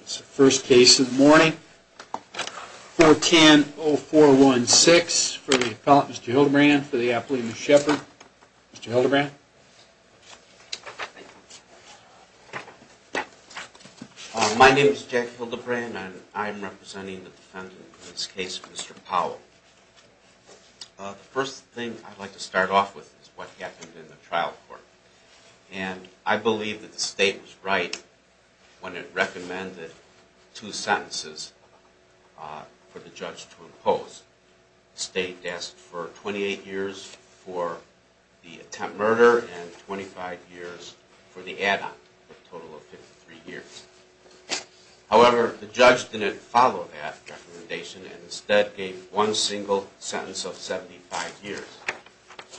It's the first case of the morning. 410-0416 for the appellant, Mr. Hildebrand, for the athlete, Ms. Shepard. Mr. Hildebrand? My name is Jack Hildebrand and I'm representing the defendant in this case, Mr. Powell. The first thing I'd like to start off with is what happened in the trial court. And I believe that the state was right when it recommended two sentences for the judge to impose. The state asked for 28 years for the attempt murder and 25 years for the add-on, a total of 53 years. However, the judge didn't follow that recommendation and instead gave one single sentence of 75 years,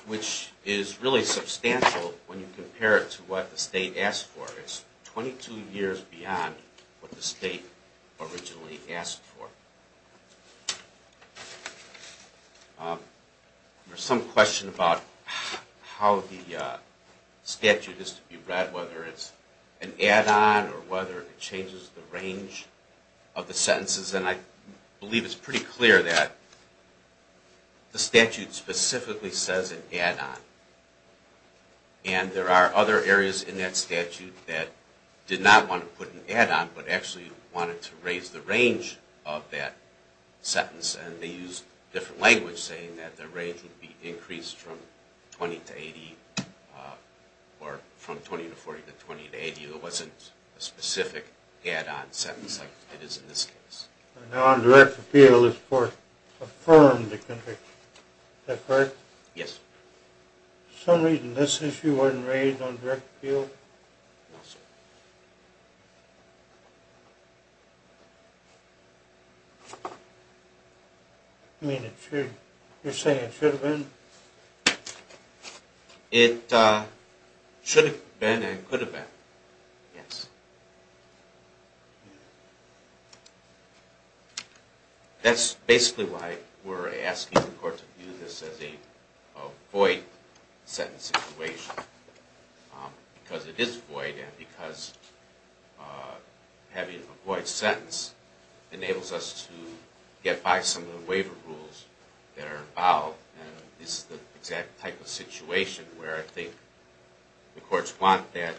which is really substantial when you compare it to what the state asked for. It's 22 years beyond what the state originally asked for. There's some question about how the statute is to be read, whether it's an add-on or whether it changes the range of the sentences. And I believe it's pretty clear that the statute specifically says an add-on. And there are other areas in that statute that did not want to put an add-on but actually wanted to raise the range of that sentence. And they used different language saying that the range would be increased from 20 to 80 or from 20 to 40 to 20 to 80. It wasn't a specific add-on sentence like it is in this case. Now, on direct appeal, this court affirmed the conviction. Is that correct? Yes, sir. For some reason, this issue wasn't raised on direct appeal? No, sir. You mean it should? You're saying it should have been? It should have been and could have been. Yes. That's basically why we're asking the court to view this as a void sentence situation. Because it is void and because having a void sentence enables us to get by some of the waiver rules that are involved. This is the exact type of situation where I think the courts want that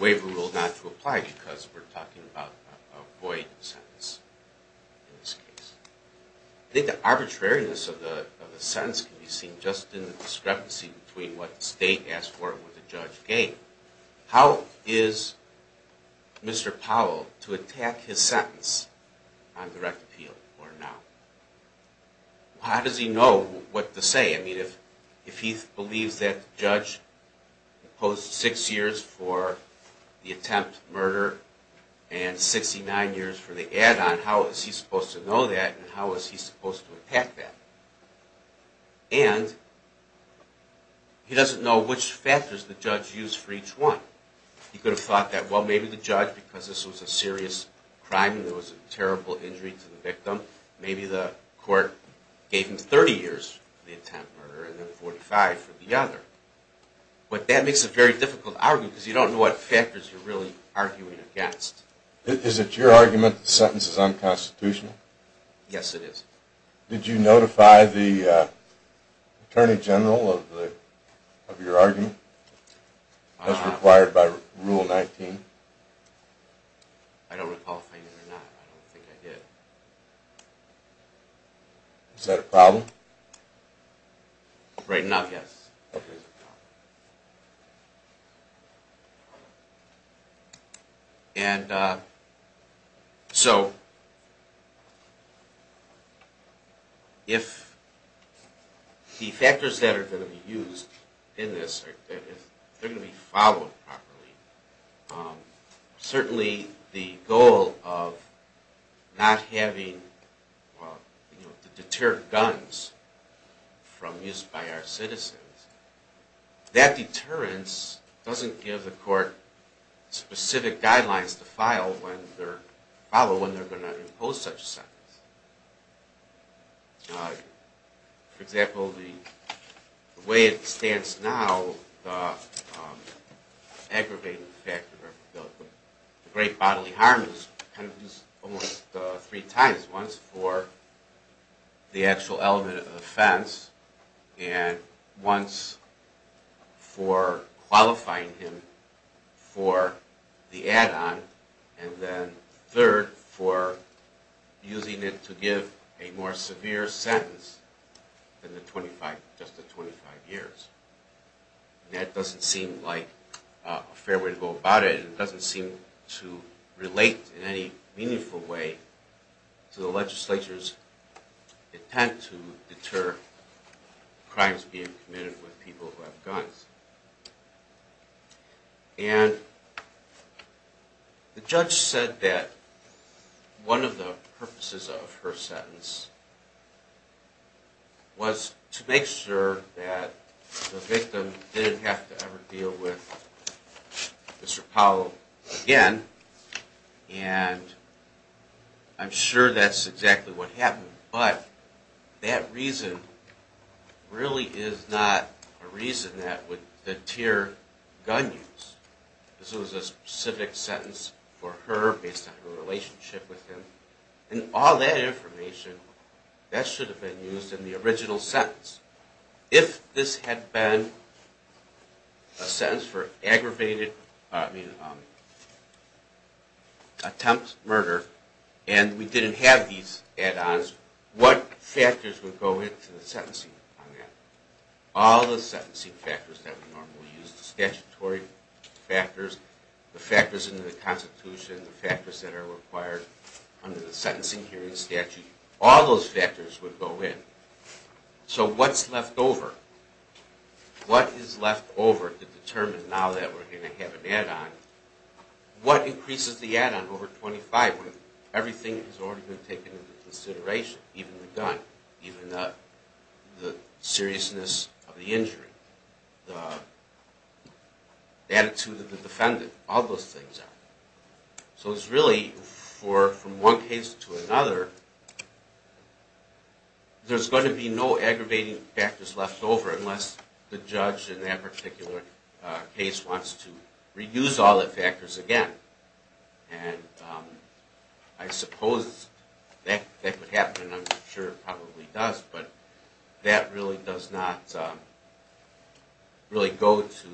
waiver rule not to apply because we're talking about a void sentence in this case. I think the arbitrariness of the sentence can be seen just in the discrepancy between what the state asked for and what the judge gave. How is Mr. Powell to attack his sentence on direct appeal or not? How does he know what to say? If he believes that the judge imposed six years for the attempt murder and 69 years for the add-on, how is he supposed to know that and how is he supposed to attack that? And he doesn't know which factors the judge used for each one. He could have thought that, well, maybe the judge, because this was a serious crime and there was a terrible injury to the victim, maybe the court gave him 30 years for the attempt murder and then 45 for the other. But that makes a very difficult argument because you don't know what factors you're really arguing against. Is it your argument that the sentence is unconstitutional? Yes, it is. Did you notify the Attorney General of your argument as required by Rule 19? I don't recall if I did or not. I don't think I did. Is that a problem? Right now, yes. And so, if the factors that are going to be used in this are going to be followed properly, certainly the goal of not having to deter guns from use by our citizens, that deterrence doesn't give the court specific guidelines to follow when they're going to impose such a sentence. For example, the way it stands now, the aggravating factor, the great bodily harm is used almost three times. Once for the actual element of offense and once for qualifying him for the add-on and then third for using it to give a more severe sentence than just the 25 years. That doesn't seem like a fair way to go about it. It doesn't seem to relate in any meaningful way to the legislature's attempt to deter crimes being committed with people who have guns. And the judge said that one of the purposes of her sentence was to make sure that the victim didn't have to ever deal with Mr. Powell again. And I'm sure that's exactly what happened. But that reason really is not a reason that would deter gun use. This was a specific sentence for her based on her relationship with him. And all that information, that should have been used in the original sentence. If this had been a sentence for attempted murder and we didn't have these add-ons, what factors would go into the sentencing on that? All the sentencing factors that we normally use, the statutory factors, the factors in the Constitution, the factors that are required under the sentencing hearing statute, all those factors would go in. So what's left over? What is left over to determine now that we're going to have an add-on? What increases the add-on over 25 when everything has already been taken into consideration? Even the gun, even the seriousness of the injury, the attitude of the defendant, all those things. So it's really, from one case to another, there's going to be no aggravating factors left over unless the judge in that particular case wants to reuse all the factors again. And I suppose that would happen, and I'm sure it probably does, but that really does not go to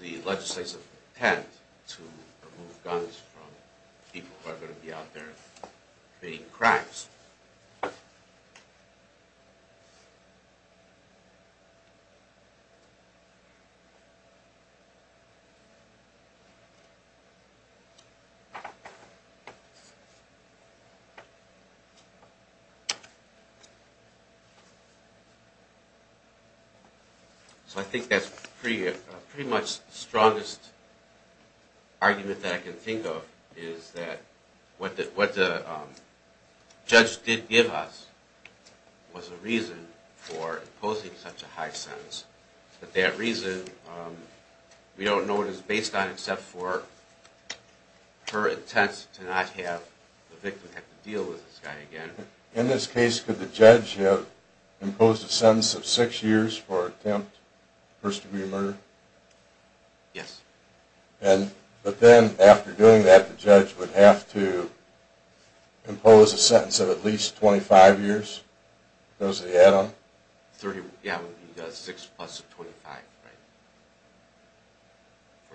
the legislative intent to remove guns from people who are going to be out there committing crimes. So I think that's pretty much the strongest argument that I can think of, is that what the judge did give us was a reason for imposing such a high sentence. But that reason, we don't know what it's based on except for her intent to not have the victim have to deal with this guy again. In this case, could the judge have imposed a sentence of 6 years for attempted first-degree murder? Yes. But then, after doing that, the judge would have to impose a sentence of at least 25 years, because of the add-on? Yeah, it would be 6 plus 25 for the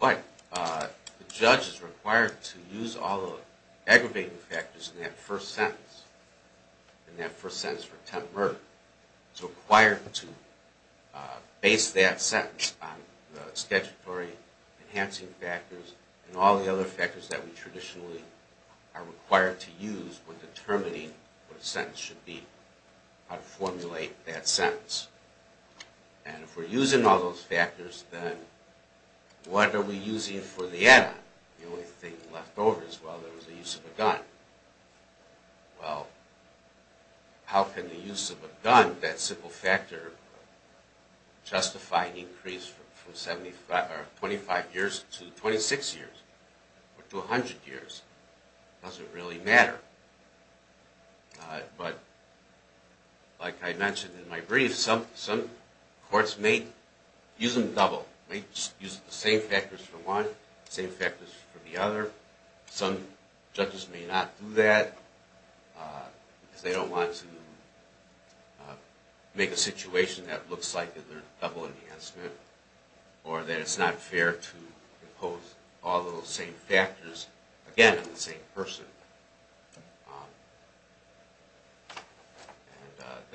31. But the judge is required to use all the aggravating factors in that first sentence, in that first sentence for attempted murder. It's required to base that sentence on the statutory enhancing factors and all the other factors that we traditionally are required to use when determining what a sentence should be, how to formulate that sentence. And if we're using all those factors, then what are we using for the add-on? The only thing left over is, well, there was the use of a gun. Well, how can the use of a gun, that simple factor, justify an increase from 25 years to 26 years, or to 100 years? It doesn't really matter. But, like I mentioned in my brief, some courts may use them double. They use the same factors for one, same factors for the other. Some judges may not do that, because they don't want to make a situation that looks like there's a double enhancement, or that it's not fair to impose all those same factors. Again, on the same person.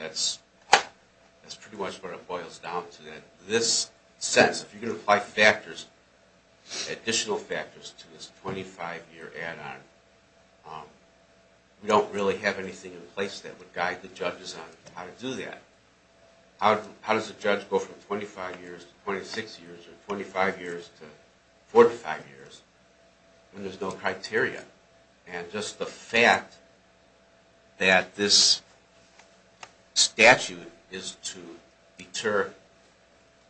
And that's pretty much what it boils down to. In this sentence, if you're going to apply factors, additional factors, to this 25-year add-on, we don't really have anything in place that would guide the judges on how to do that. How does a judge go from 25 years to 26 years, or 25 years to 45 years, when there's no criteria? And just the fact that this statute is to deter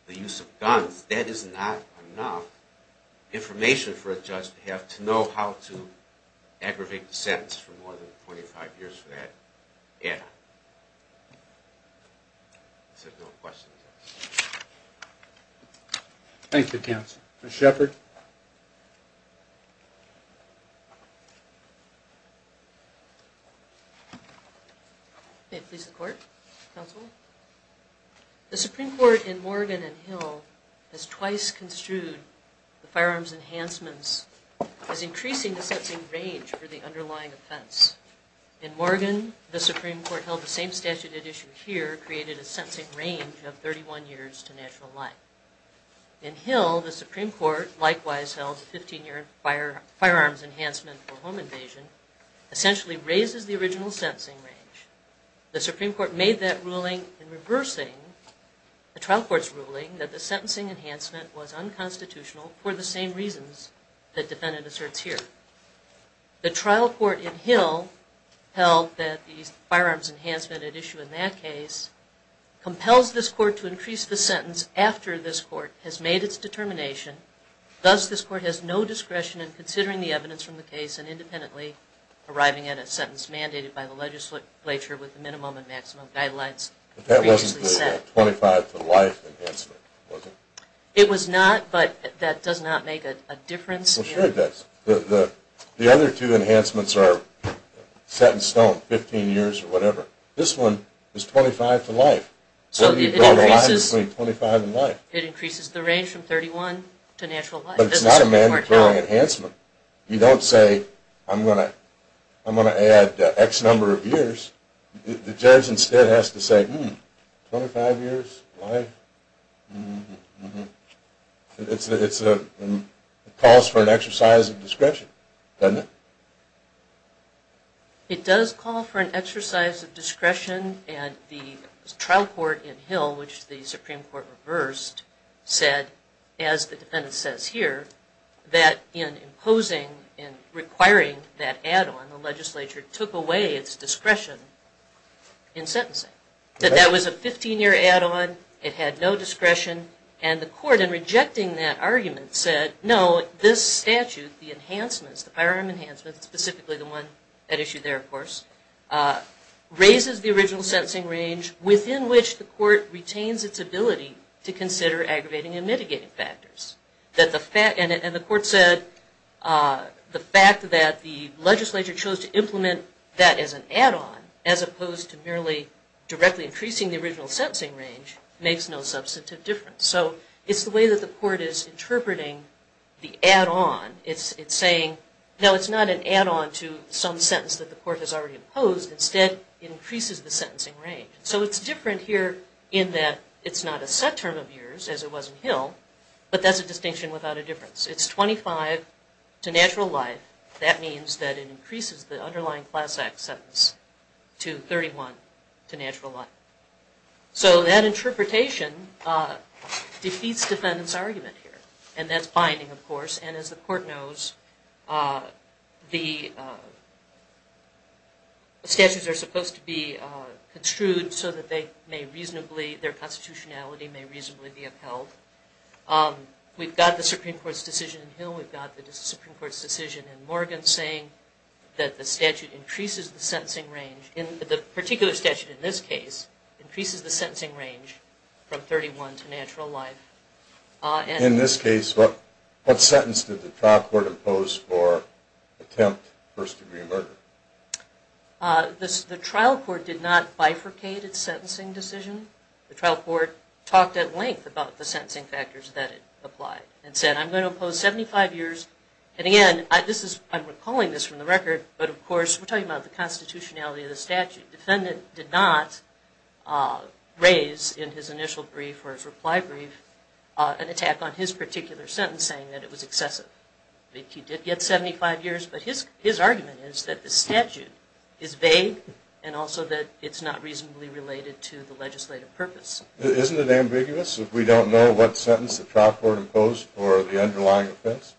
the use of guns, that is not enough information for a judge to have to know how to aggravate the sentence for more than 25 years for that add-on. So, no questions. Thank you, counsel. Ms. Sheppard? May it please the court? Counsel? The Supreme Court in Morgan and Hill has twice construed the firearms enhancements as increasing the sentencing range for the underlying offense. In Morgan, the Supreme Court held the same statute at issue here, created a sentencing range of 31 years to natural life. In Hill, the Supreme Court likewise held 15-year firearms enhancement for home invasion essentially raises the original sentencing range. The Supreme Court made that ruling in reversing the trial court's ruling that the sentencing enhancement was unconstitutional for the same reasons that defendant asserts here. The trial court in Hill held that the firearms enhancement at issue in that case compels this court to increase the sentence after this court has made its determination, thus this court has no discretion in considering the evidence from the case and independently arriving at a sentence mandated by the legislature with the minimum and maximum guidelines previously set. But that wasn't the 25-to-life enhancement, was it? It was not, but that does not make a difference. Well, sure it does. The other two enhancements are set in stone, 15 years or whatever. This one is 25-to-life. So it increases the range from 31 to natural life. But it's not a mandatory enhancement. You don't say, I'm going to add X number of years. The judge instead has to say, hmm, 25 years life? It calls for an exercise of discretion, doesn't it? It does call for an exercise of discretion, and the trial court in Hill, which the Supreme Court reversed, said, as the defendant says here, that in imposing and requiring that add-on, the legislature took away its discretion in sentencing. That was a 15-year add-on. It had no discretion. And the court, in rejecting that argument, said, no, this statute, the enhancements, the firearm enhancements, specifically the one at issue there, of course, raises the original sentencing range within which the court retains its ability to consider aggravating and mitigating factors. And the court said the fact that the legislature chose to implement that as an add-on, as opposed to merely directly increasing the original sentencing range, makes no substantive difference. So it's the way that the court is interpreting the add-on. It's saying, no, it's not an add-on to some sentence that the court has already imposed. Instead, it increases the sentencing range. So it's different here in that it's not a set term of years, as it was in Hill, but that's a distinction without a difference. It's 25 to natural life. That means that it increases the underlying class act sentence to 31, to natural life. So that interpretation defeats defendant's argument here, and that's binding, of course. And as the court knows, the statutes are supposed to be construed so that they may reasonably, their constitutionality may reasonably be upheld. We've got the Supreme Court's decision in Hill. We've got the Supreme Court's decision in Morgan saying that the statute increases the sentencing range. The particular statute in this case increases the sentencing range from 31 to natural life. In this case, what sentence did the trial court impose for attempt first-degree murder? The trial court did not bifurcate its sentencing decision. The trial court talked at length about the sentencing factors that it applied and said, I'm going to impose 75 years. And again, I'm recalling this from the record, but of course we're talking about the constitutionality of the statute. The defendant did not raise in his initial brief or his reply brief an attack on his particular sentence saying that it was excessive. He did get 75 years, but his argument is that the statute is vague and also that it's not reasonably related to the legislative purpose. Isn't it ambiguous if we don't know what sentence the trial court imposed for the underlying offense?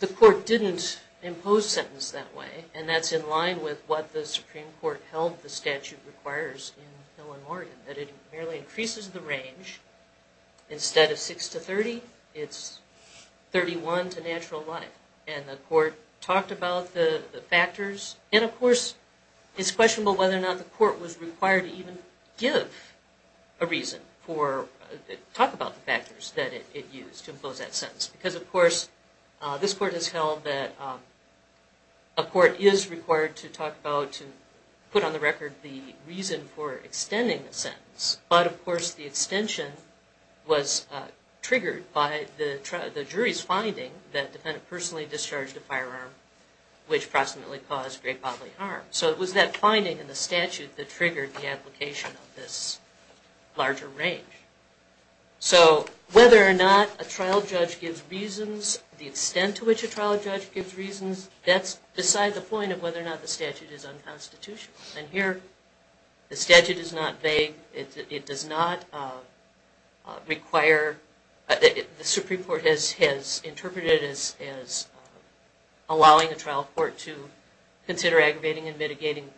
The court didn't impose sentence that way, and that's in line with what the Supreme Court held the statute requires in Hill and Morgan, that it merely increases the range. Instead of 6 to 30, it's 31 to natural life. And the court talked about the factors. And, of course, it's questionable whether or not the court was required to even give a reason or talk about the factors that it used to impose that sentence. Because, of course, this court has held that a court is required to talk about to put on the record the reason for extending the sentence. But, of course, the extension was triggered by the jury's finding that the defendant personally discharged a firearm which proximately caused great bodily harm. So it was that finding in the statute that triggered the application of this larger range. So whether or not a trial judge gives reasons, the extent to which a trial judge gives reasons, that's beside the point of whether or not the statute is unconstitutional. And here the statute is not vague. It does not require, the Supreme Court has interpreted it as allowing a trial court to consider aggravating and mitigating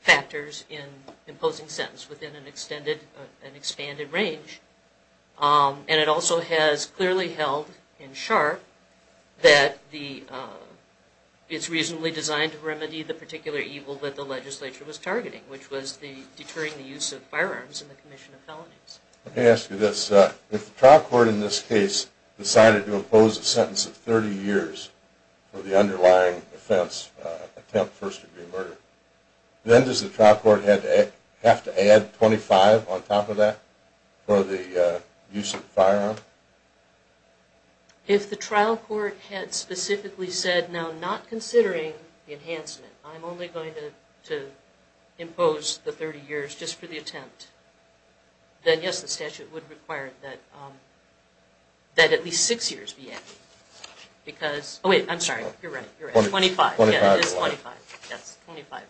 factors in imposing sentence within an extended, an expanded range. And it also has clearly held in sharp that it's reasonably designed to remedy the particular evil that the legislature was targeting, which was the deterring the use of firearms in the commission of felonies. Let me ask you this. If the trial court in this case decided to impose a sentence of 30 years for the underlying offense, attempt first degree murder, then does the trial court have to add 25 on top of that for the use of the firearm? If the trial court had specifically said, now not considering the enhancement, I'm only going to impose the 30 years just for the attempt, then yes, the statute would require that at least six years be added. Because, oh wait, I'm sorry, you're right, you're right, 25. Yeah, it is 25. Yes, 25.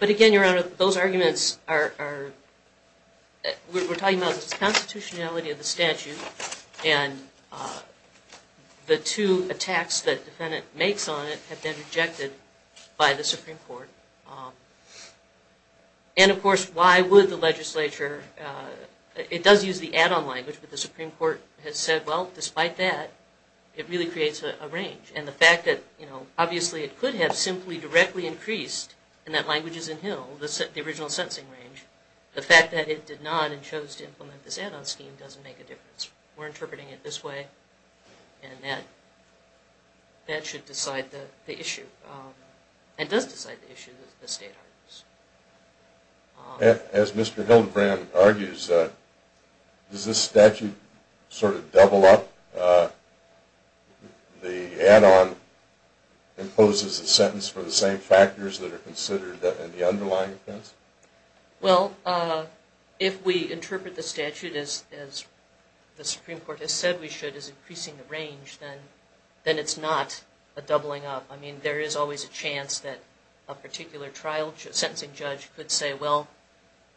But again, Your Honor, those arguments are, we're talking about the constitutionality of the statute and the two attacks that defendant makes on it have been rejected by the Supreme Court. And of course, why would the legislature, it does use the add-on language, but the Supreme Court has said, well, despite that, it really creates a range. And the fact that, you know, obviously it could have simply directly increased, and that language is in Hill, the original sentencing range, the fact that it did not and chose to implement this add-on scheme doesn't make a difference. We're interpreting it this way, and that should decide the issue, and does decide the issue that the state argues. As Mr. Hildebrand argues, does this statute sort of double up the add-on, imposes a sentence for the same factors that are considered in the underlying offense? Well, if we interpret the statute as the Supreme Court has said we should, as increasing the range, then it's not a doubling up. I mean, there is always a chance that a particular sentencing judge could say, well,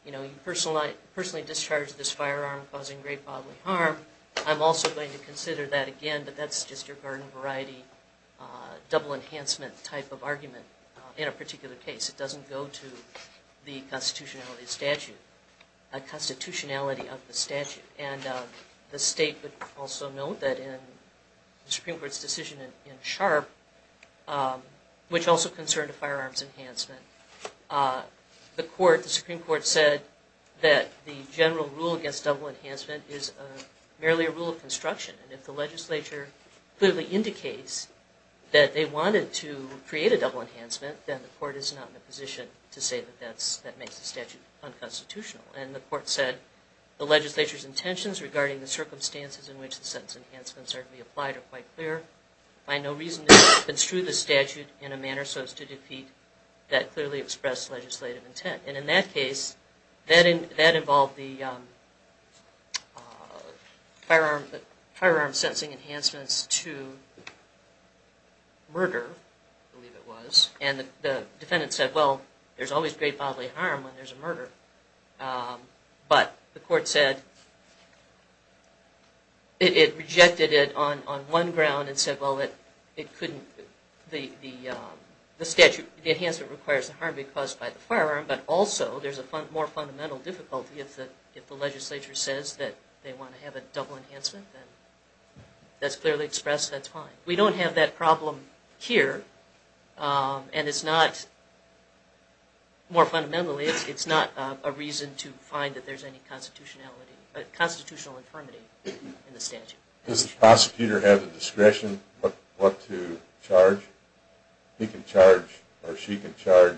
you know, you personally discharged this firearm causing great bodily harm. I'm also going to consider that again, but that's just your garden variety, double enhancement type of argument in a particular case. It doesn't go to the constitutionality of the statute. And the state would also note that in the Supreme Court's decision in Sharp, which also concerned firearms enhancement, the Supreme Court said that the general rule against double enhancement is merely a rule of construction, and if the legislature clearly indicates that they wanted to create a double enhancement, then the court is not in a position to say that that makes the statute unconstitutional. And the court said the legislature's intentions regarding the circumstances in which the sentence enhancements are to be applied are quite clear. I have no reason to construe the statute in a manner so as to defeat that clearly expressed legislative intent. And in that case, that involved the firearm sentencing enhancements to murder, I believe it was, and the defendant said, well, there's always great bodily harm when there's a murder. But the court said it rejected it on one ground and said, well, it couldn't, the statute, the enhancement requires the harm to be caused by the firearm, but also there's a more fundamental difficulty if the legislature says that they want to have a double enhancement, then that's clearly expressed, that's fine. We don't have that problem here, and it's not, more fundamentally, it's not a reason to find that there's any constitutionality, constitutional infirmity in the statute. Does the prosecutor have the discretion what to charge? He can charge or she can charge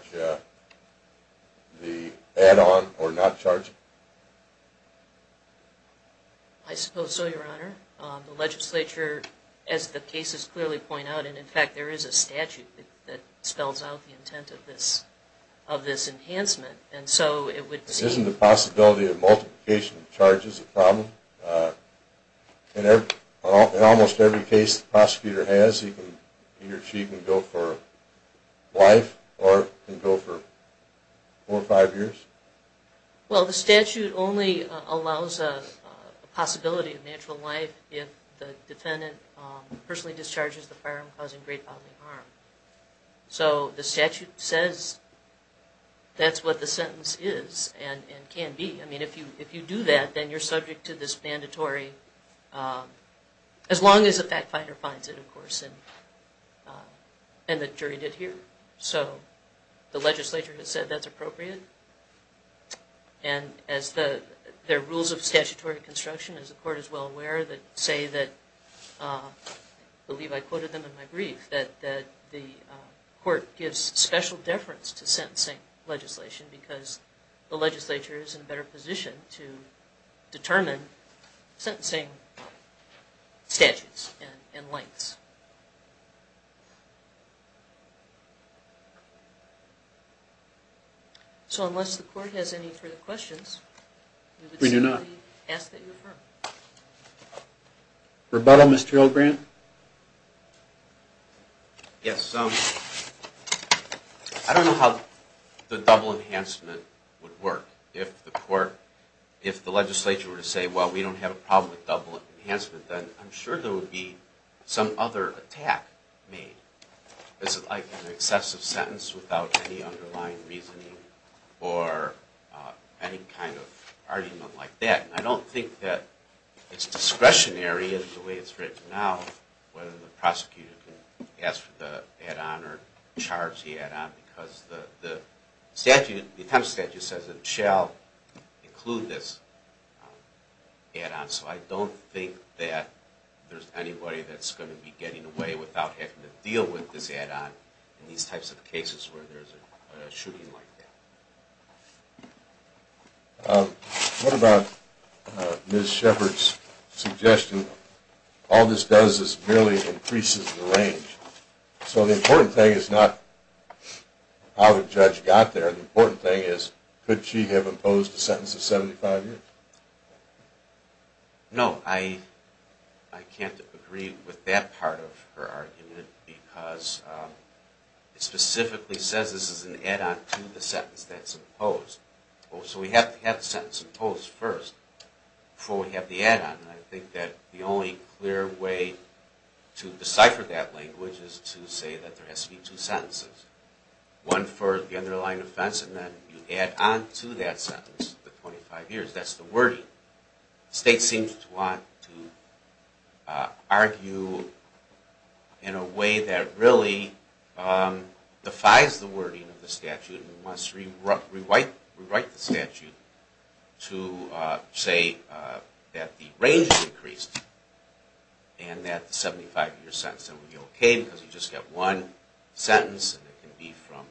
the add-on or not charge it? I suppose so, Your Honor. The legislature, as the cases clearly point out, and in fact there is a statute that spells out the intent of this enhancement, and so it would be... The possibility of multiplication of charges is a problem? In almost every case the prosecutor has, he or she can go for life or can go for four or five years? Well, the statute only allows a possibility of natural life if the defendant personally discharges the firearm causing great bodily harm. So the statute says that's what the sentence is and can be. I mean, if you do that, then you're subject to this mandatory, as long as the fact finder finds it, of course, and the jury did here. So the legislature has said that's appropriate, and as the rules of statutory construction, as the court is well aware, that say that, I believe I quoted them in my brief, that the court gives special deference to sentencing legislation because the legislature is in a better position to determine sentencing statutes and lengths. So unless the court has any further questions, we would simply ask that you affirm. Rebuttal, Mr. O'Grant? Yes. I don't know how the double enhancement would work. If the court, if the legislature were to say, well, we don't have a problem with double enhancement, then I'm sure there would be some other attack made. Is it like an excessive sentence without any underlying reasoning or any kind of argument like that? And I don't think that it's discretionary in the way it's written now, whether the prosecutor can ask for the add-on or charge the add-on, because the statute, the attempt statute says it shall include this add-on. So I don't think that there's anybody that's going to be getting away without having to deal with this add-on in these types of cases where there's a shooting like that. What about Ms. Shepard's suggestion, all this does is merely increases the range. So the important thing is not how the judge got there. The important thing is could she have imposed a sentence of 75 years? No, I can't agree with that part of her argument because it specifically says this is an add-on to the sentence that's imposed. So we have to have the sentence imposed first before we have the add-on. I think that the only clear way to decipher that language is to say that there has to be two sentences, one for the underlying offense and then you add on to that sentence the 25 years. That's the wording. The state seems to want to argue in a way that really defies the wording of the statute and must rewrite the statute to say that the range has increased and that the 75-year sentence will be okay because you just get one sentence and it can be from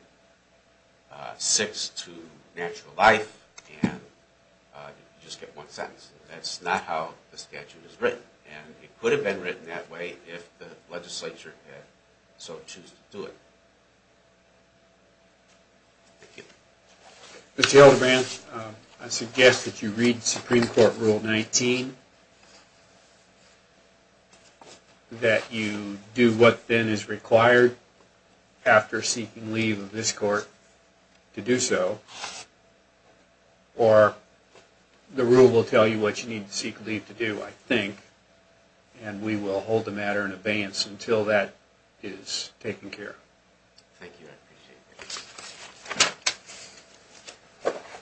six to natural life and you just get one sentence. That's not how the statute is written and it could have been written that way if the legislature had so choosed to do it. Thank you. Mr. Alderman, I suggest that you read Supreme Court Rule 19, that you do what then is required after seeking leave of this court to do so or the rule will tell you what you need to seek leave to do, I think, and we will hold the matter in abeyance until that is taken care of. Thank you. I appreciate it.